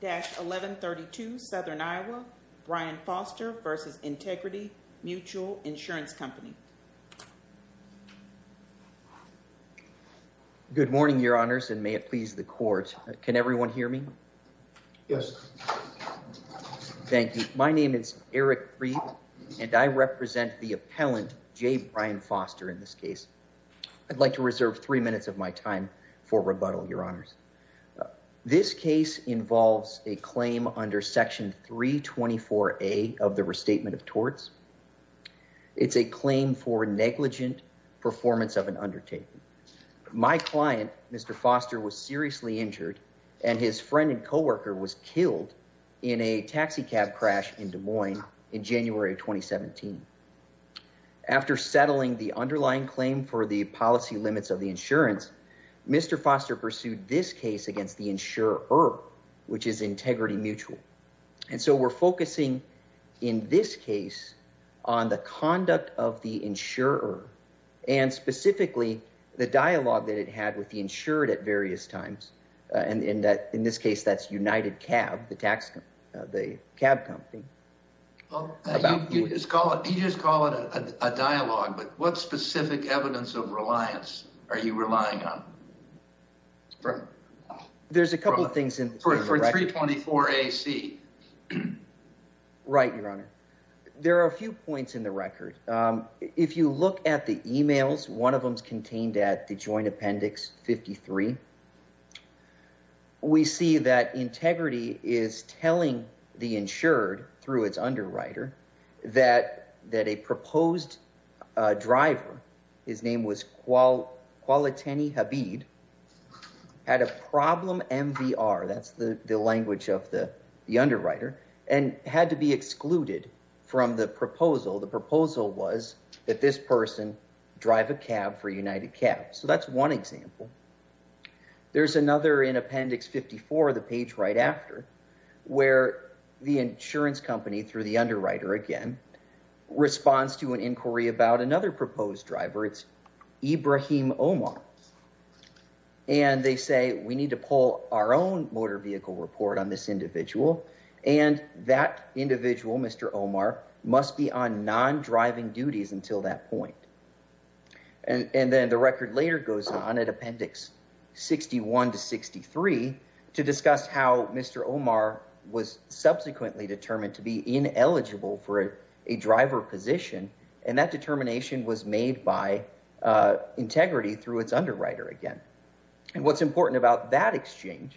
20-1132 Southern Iowa, Brian Foster v. Integrity Mutual Insurance Company. Good morning your honors and may it please the court. Can everyone hear me? Yes. Thank you. My name is Eric Freed and I represent the appellant J. Brian Foster in this case. I'd like to reserve three minutes of my time for rebuttal your honors. This case involves a claim under section 324a of the restatement of torts. It's a claim for negligent performance of an undertaking. My client Mr. Foster was seriously injured and his friend and co-worker was killed in a taxi cab crash in Des Moines in 2017. After settling the underlying claim for the policy limits of the insurance, Mr. Foster pursued this case against the insurer, which is Integrity Mutual. And so we're focusing in this case on the conduct of the insurer and specifically the dialogue that it had with the insured at various times. And in that in this case, that's United Cab, the tax, the cab company. You just call it, you just call it a dialogue, but what specific evidence of reliance are you relying on? There's a couple of things in the record. For 324ac. Right your honor. There are a few points in the record. If you look at the emails, one of them's contained at the joint appendix 53. We see that integrity is telling the insured through its underwriter that that a proposed driver, his name was Kualatini Habib, had a problem MVR. That's the language of the underwriter and had to be excluded from the proposal. The proposal was that this person drive a cab for United Cab. So that's one example. There's another in appendix 54, the page right after where the insurance company through the underwriter again responds to an inquiry about another proposed driver. It's Ibrahim Omar. And they say, we need to pull our own motor vehicle report on this individual. And that individual, Mr. Omar, must be on non-driving duties until that point. And then the record later goes on at appendix 61 to 63 to discuss how Mr. Omar was subsequently determined to be ineligible for a driver position. And that determination was made by integrity through its underwriter again. And what's important about that exchange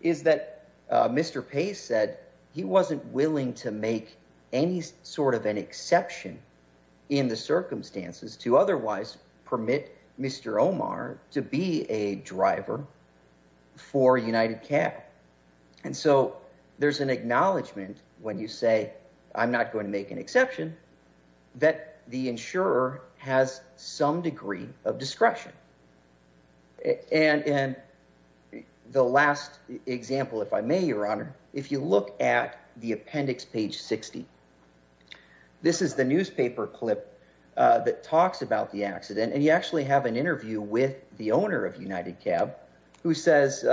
is that Mr. Pace said he wasn't willing to make any sort of an exception in the circumstances to otherwise permit Mr. Omar to be a driver for United Cab. And so there's an acknowledgement when you say, I'm not going to make an exception that the insurer has some degree of discretion. And the last example, if I may, Your Honor, if you look at the appendix page 60, this is the newspaper clip that talks about the accident. And you actually have an interview with the owner of United Cab who says,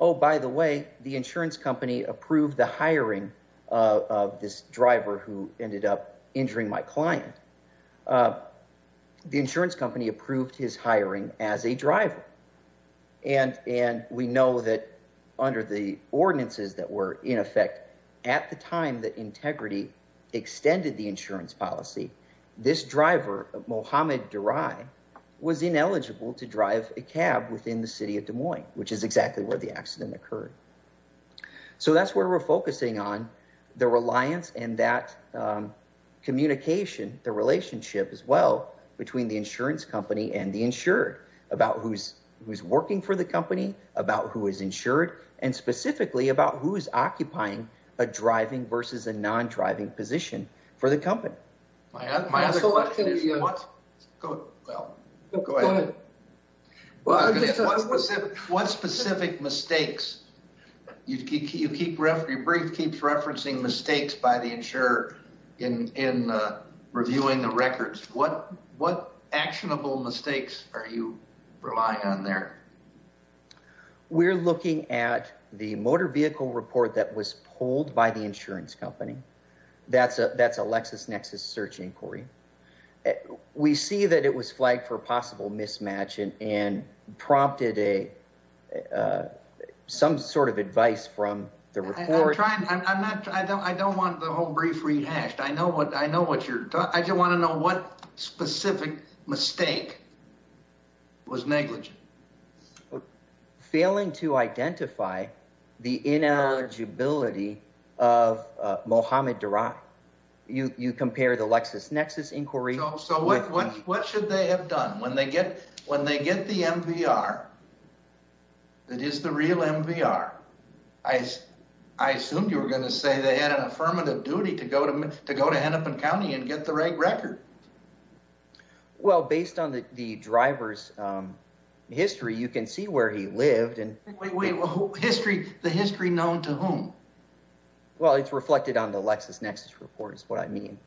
oh, by the way, the insurance company approved the hiring of this driver who ended up injuring my client. The insurance company approved his hiring as a driver. And we know that under the ordinances that were in effect at the time that integrity extended the insurance policy, this driver, Mohamed Darai, was ineligible to drive a cab within the city of Des Moines, which is exactly where the accident occurred. So that's where we're focusing on the reliance and that communication, the relationship as well between the insurance company and the insured about who's working for the company, about who is insured, and specifically about who is occupying a driving versus a non-driving position for the You keep, your brief keeps referencing mistakes by the insurer in reviewing the records. What actionable mistakes are you relying on there? We're looking at the motor vehicle report that was pulled by the insurance company. That's a LexisNexis search inquiry. And we see that it was flagged for possible mismatch and prompted some sort of advice from the report. I don't want the whole brief rehashed. I just want to know what specific mistake was negligent. Failing to identify the ineligibility of Mohamed Darai. You compare the LexisNexis inquiry. So what should they have done when they get the MVR? It is the real MVR. I assumed you were going to say they had an affirmative duty to go to Hennepin County and get the record. Well, based on the driver's history, you can see where he lived. Wait, wait. The history known to whom? Well, it's reflected on the LexisNexis report is what I mean.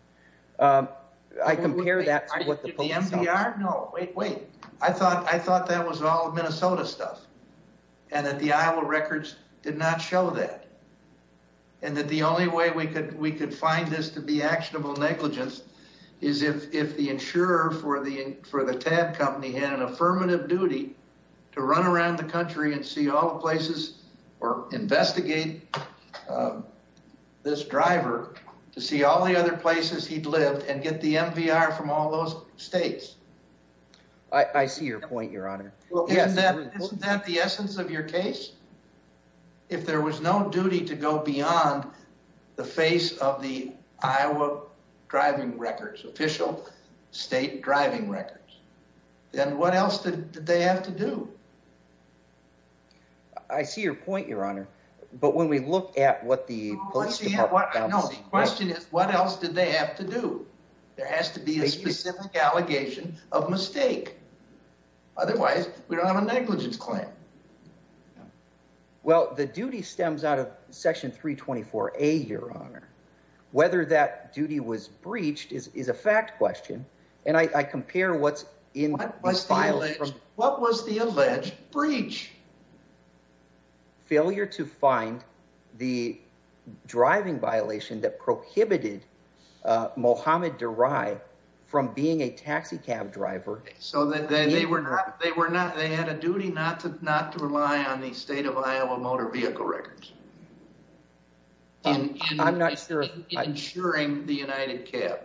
I compare that to the MVR. No, wait, wait. I thought that was all Minnesota stuff. And that the Iowa records did not show that. And that the only way we could find this to be actionable negligence is if the insurer for the TAB company had an affirmative duty to run around the country and see all the places or investigate this driver to see all the other places he'd lived and get the MVR from all those states. I see your point, your honor. Well, isn't that the essence of your case? If there was no duty to go beyond the face of the Iowa driving records, official state driving records, then what else did they have to do? I see your point, your honor. But when we look at what the police department found to see... No, the question is what else did they have to do? There has to be a specific allegation of mistake. Otherwise, we don't have a negligence claim. Well, the duty stems out of section 324A, your honor. Whether that duty was breached is a fact question. And I compare what's in the files. What was the alleged breach? Failure to find the driving violation that prohibited Mohamed Darai from being a taxi cab driver. So they had a duty not to rely on the state of Iowa motor vehicle records. And I'm not sure... Ensuring the United Cab.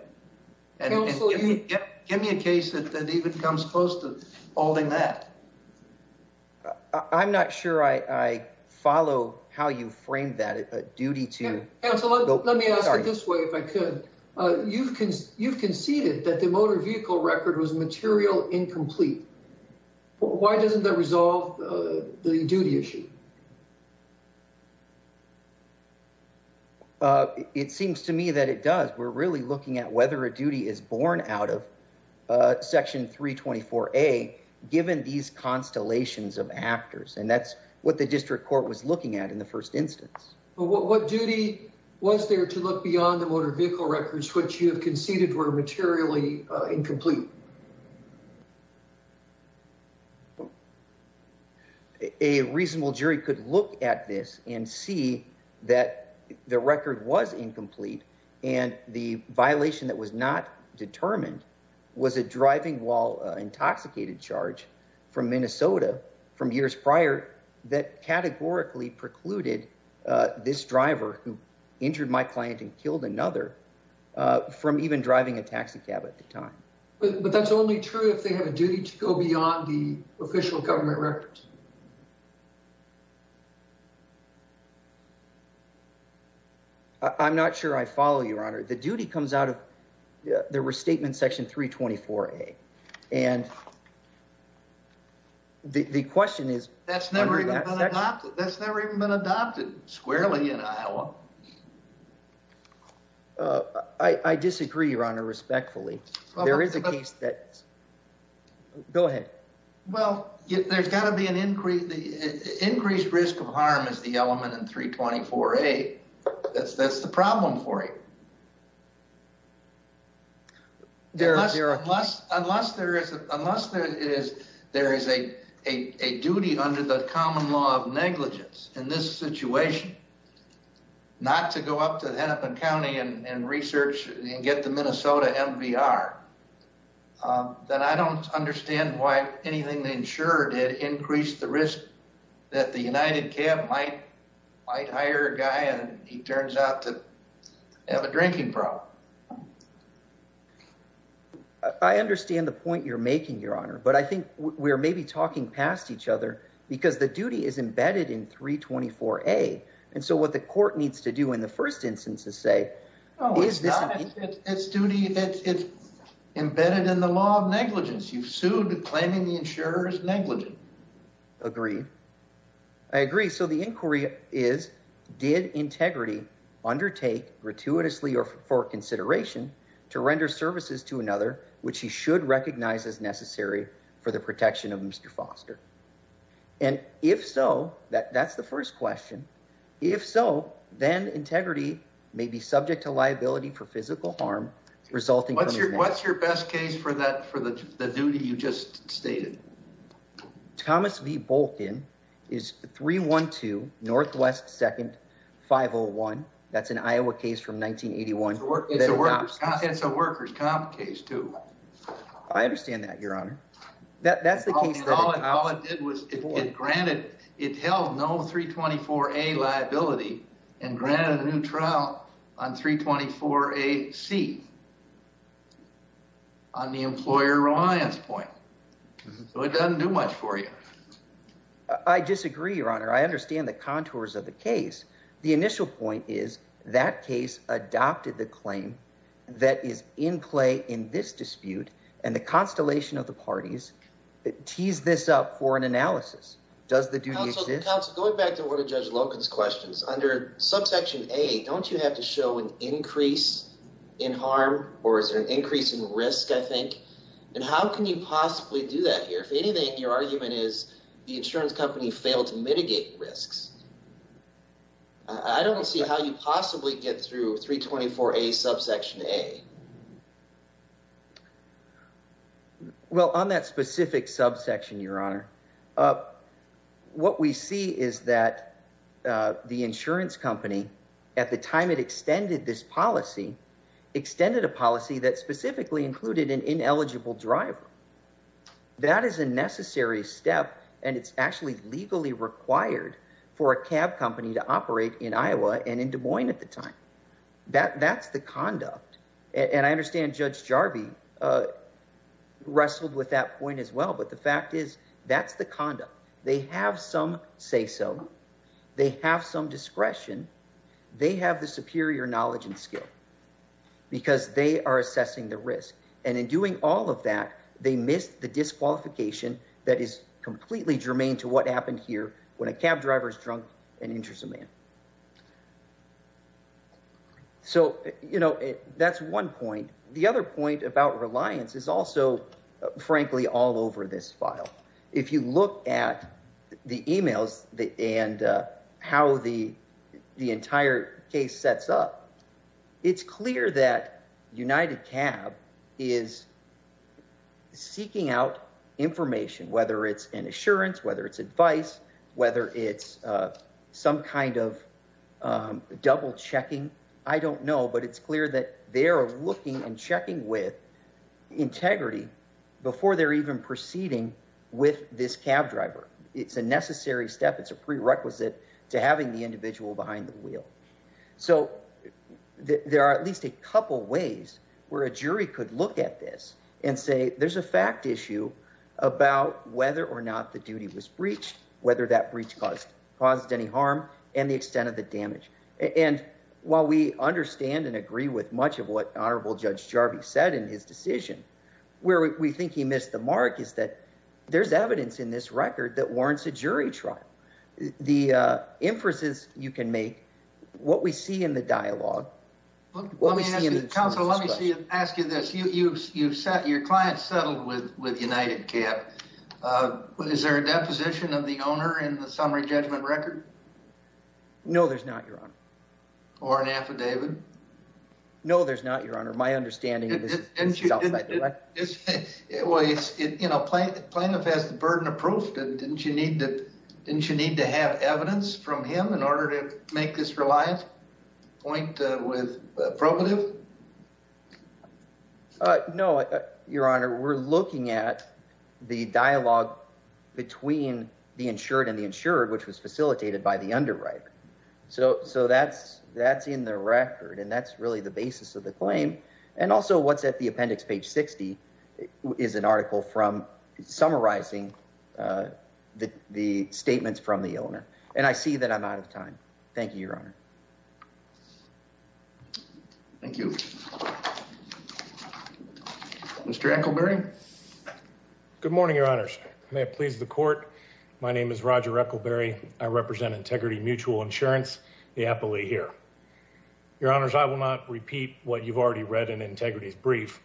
Give me a case that even comes close to holding that. I'm not sure I follow how you framed that. A duty to... Let me ask it this way, if I could. You've conceded that the motor vehicle record was incomplete. It seems to me that it does. We're really looking at whether a duty is born out of section 324A given these constellations of actors. And that's what the district court was looking at in the first instance. What duty was there to look beyond the motor vehicle records which you have conceded were materially incomplete? A reasonable jury could look at this and see that the record was incomplete. And the violation that was not determined was a driving while intoxicated charge from Minnesota from years prior that categorically precluded this driver who injured my client and killed another from even driving a taxicab at the time. But that's only true if they have a duty to go beyond the official government records. I'm not sure I follow, Your Honor. The duty comes out of the restatement section 324A. And the question is... That's never even been adopted squarely in Iowa. I disagree, Your Honor, respectfully. There is a case that... Go ahead. Well, there's got to be an increase... Increased risk of harm is the element in 324A. That's the problem for you. Unless there is a duty under the common law of negligence in this situation, not to go up to Hennepin County and research and get the Minnesota MVR, then I don't understand why anything the insurer did increased the risk that the United Cab might hire a guy and he turns out to have a drinking problem. I understand the point you're making, Your Honor. But I think we're maybe talking past each other because the duty is embedded in 324A. And so what the court needs to do in the first instance is say... No, it's not. It's embedded in the law of negligence. You've sued claiming the insurer is negligent. Agreed. I agree. So the inquiry is, did Integrity undertake gratuitously or for consideration to render services to another which he should recognize as necessary for the protection of Mr. Foster? And if so, that's the first question. If so, then Integrity may be subject to liability for physical harm resulting... What's your best case for the duty you just stated? Thomas V. Bolkin is 312 Northwest 2nd 501. That's an Iowa case from 1981. It's a workers' comp case, too. I understand that, Your Honor. That's the case that... All it did was it granted... It held no 324A liability and granted a new trial on 324A-C on the employer reliance point. So it doesn't do much for you. I disagree, Your Honor. I understand the contours of the case. The initial point is that case adopted the claim that is in play in this dispute, and the constellation of the parties tease this up for an analysis. Does the duty exist? Counsel, going back to one of Judge Loken's questions, under subsection A, don't you have to show an increase in harm or is there an increase in risk, I think? And how can you possibly do that here? If anything, your argument is the insurance company failed to mitigate risks. I don't see how you possibly get through 324A subsection A. Well, on that specific subsection, Your Honor, what we see is that the insurance company, at the time it extended this policy, extended a policy that specifically included an ineligible driver. That is a necessary step, and it's actually legally required for a cab company to operate in Iowa and in Des Moines at the time. That's the conduct. And I understand Judge Jarvie wrestled with that point as well, but the fact is that's the conduct. They have some say-so. They have some discretion. They have the superior knowledge and skill because they are assessing the risk. And in doing all of that, they missed the disqualification that is completely germane to what happened here when a cab driver is drunk and injures a man. So, you know, that's one point. The other point about reliance is also, frankly, all over this file. If you look at the emails and how the entire case sets up, it's clear that UnitedCab is seeking out information, whether it's an assurance, whether it's advice, whether it's some kind of double-checking. I don't know, but it's clear that they are looking and checking with integrity before they're even proceeding with this cab driver. It's a necessary step. It's a prerequisite to having the individual behind the wheel. So there are at least a couple ways where a jury could look at this and say there's a fact issue about whether or not the duty was breached, whether that breach caused any harm, and the extent of the damage. And while we understand and agree with much of what Honorable Judge Jarvie said in his decision, where we think he missed the mark is that there's evidence in this record that warrants a jury trial. The inferences you can make, what we see in the dialogue. Counselor, let me ask you this. Your client settled with UnitedCab. Is there a deposition of the owner in the summary judgment record? No, there's not, Your Honor. Or an affidavit? No, there's not, Your Honor. Didn't you need to have evidence from him in order to make this point with probative? No, Your Honor. We're looking at the dialogue between the insured and the insured, which was facilitated by the underwriter. So that's in the record and that's really the claim. And also what's at the appendix, page 60, is an article from summarizing the statements from the owner. And I see that I'm out of time. Thank you, Your Honor. Thank you. Mr. Eccleberry? Good morning, Your Honors. May it please the court, my name is Roger Eccleberry. I represent Integrity Mutual Insurance, the appellee here. Your Honors, I will not repeat what you've already read in Integrity's brief.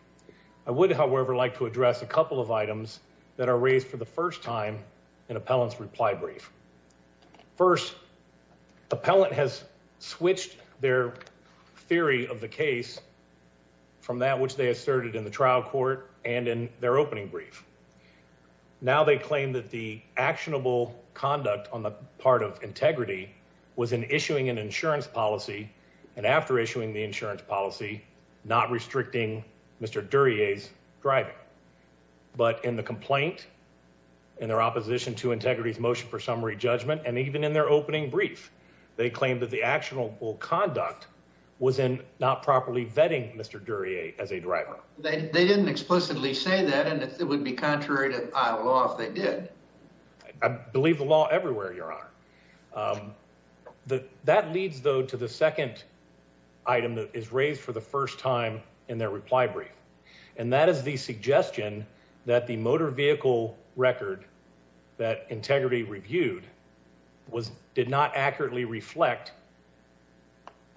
I would, however, like to address a couple of items that are raised for the first time in appellant's reply brief. First, the appellant has switched their theory of the case from that which they asserted in the trial court and in their opening brief. Now they claim that the actionable conduct on the part of Integrity was in issuing an insurance policy and after issuing the insurance policy, not restricting Mr. Duryea's driving. But in the complaint, in their opposition to Integrity's motion for summary judgment, and even in their opening brief, they claimed that the actionable conduct was in not properly vetting Mr. Duryea as a driver. They didn't explicitly say that and it would be contrary to Iowa law if they did. I believe the law everywhere, Your Honor. That leads, though, to the second item that is raised for the first time in their reply brief, and that is the suggestion that the motor vehicle record that Integrity reviewed did not accurately reflect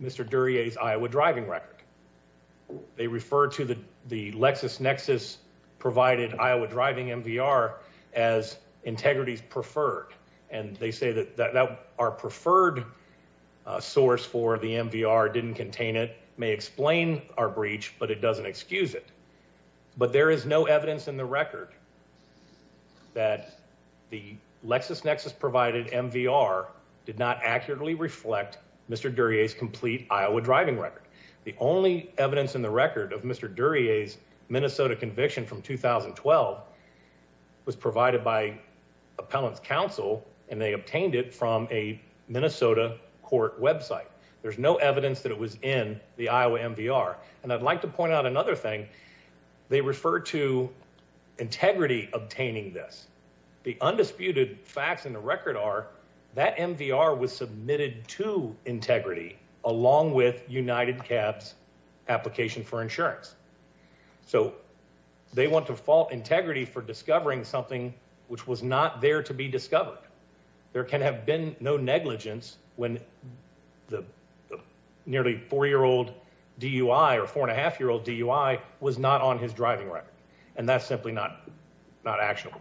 Mr. Duryea's Iowa driving record. They refer to the Lexus Nexus provided Iowa driving MVR as Integrity's preferred, and they say that our preferred source for the MVR didn't contain it may explain our breach, but it doesn't excuse it. But there is no evidence in the record that the Lexus Nexus provided MVR did not accurately reflect Mr. Duryea's complete Iowa driving record. The only evidence in the record of Mr. Duryea's Minnesota conviction from 2012 was provided by appellant's counsel, and they obtained it from a Minnesota court website. There's no evidence that it was in the Iowa MVR, and I'd like to point out another thing. They refer to Integrity obtaining this. The undisputed facts in the record are that MVR was submitted to Integrity along with UnitedCab's application for insurance. So they want to fault Integrity for discovering something which was not there to be discovered. There can have been no negligence when the nearly four-year-old DUI or four-and-a-half-year-old DUI was not on his driving record, and that's simply not not actionable.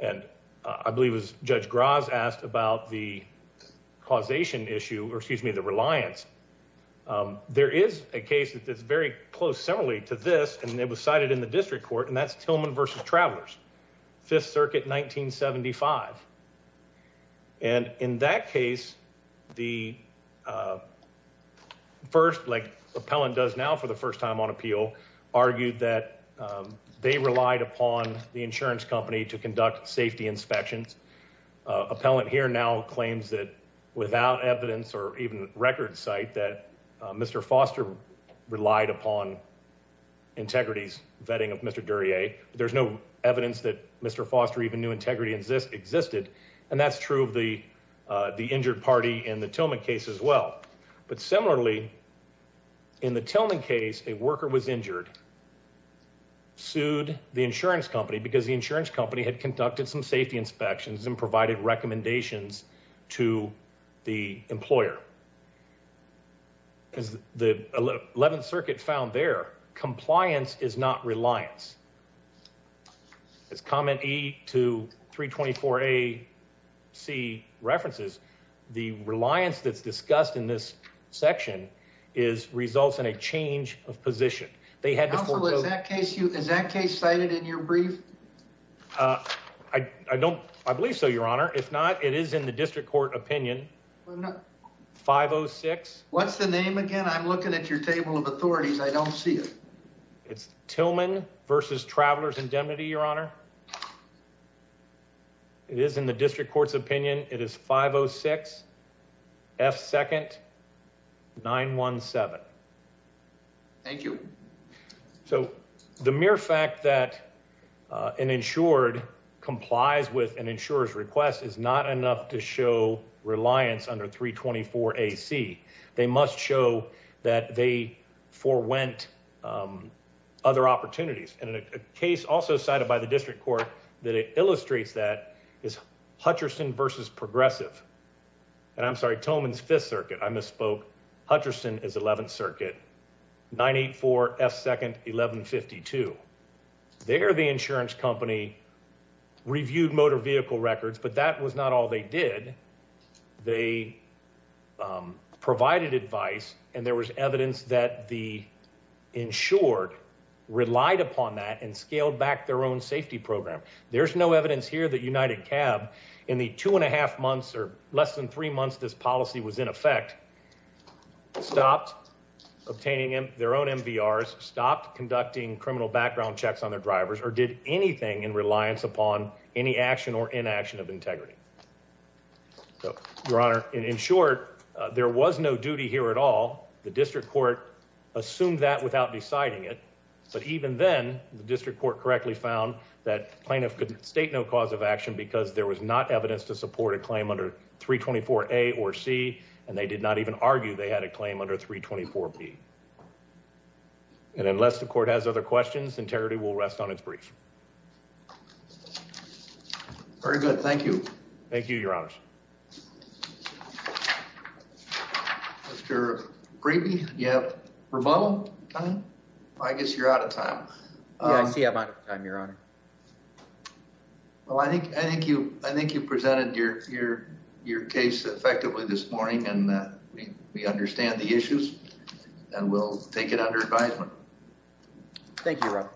And I believe it was Judge Graz asked about the causation issue, or excuse me, the reliance. There is a case that's very close similarly to this, and it was cited in the district court, and that's Tillman v. Travelers, Fifth Circuit, 1975. And in that case, the first, like appellant does now for the first time on appeal, argued that they relied upon the insurance company to conduct safety inspections. Appellant here now claims that without evidence or even record cite that Mr. Foster relied upon Integrity's vetting of Mr. Duryea. There's no evidence that Mr. Foster even knew Integrity existed, and that's true of the injured party in the Tillman case as well. But similarly, in the Tillman case, a worker was injured, sued the insurance company because the insurance company did not conduct safety inspections and provided recommendations to the employer. As the 11th Circuit found there, compliance is not reliance. As comment E to 324 AC references, the reliance that's discussed in this section results in a change of position. Counsel, is that case cited in your brief? I believe so, Your Honor. If not, it is in the district court opinion. 506. What's the name again? I'm looking at your table of authorities. I don't see it. It's Tillman v. Travelers Indemnity, Your Honor. It is in the district court's opinion. It is 506 F. 2nd 917. Thank you. So the mere fact that an insured complies with an insurer's request is not enough to show reliance under 324 AC. They must show that they forwent other opportunities. And a case also cited by the district court that illustrates that is Hutcherson v. Progressive. And I'm sorry, Hutcherson is 11th Circuit 984 F. 2nd 1152. There, the insurance company reviewed motor vehicle records, but that was not all they did. They provided advice, and there was evidence that the insured relied upon that and scaled back their own safety program. There's no evidence here that United Cab in the two and a half months or less than three this policy was in effect, stopped obtaining their own MVRs, stopped conducting criminal background checks on their drivers, or did anything in reliance upon any action or inaction of integrity. So, Your Honor, in short, there was no duty here at all. The district court assumed that without deciding it. But even then, the district court correctly found that plaintiff state no cause of action because there was not evidence to support a claim under 324 A or C, and they did not even argue they had a claim under 324 B. And unless the court has other questions, integrity will rest on its brief. Very good. Thank you. Thank you, Your Honors. Mr. Grady, you have rebuttal time? I guess you're out of time. Yeah, I see I'm out of time, Your Honor. Well, I think you presented your case effectively this morning, and we understand the issues, and we'll take it under advisement. Thank you, Rob.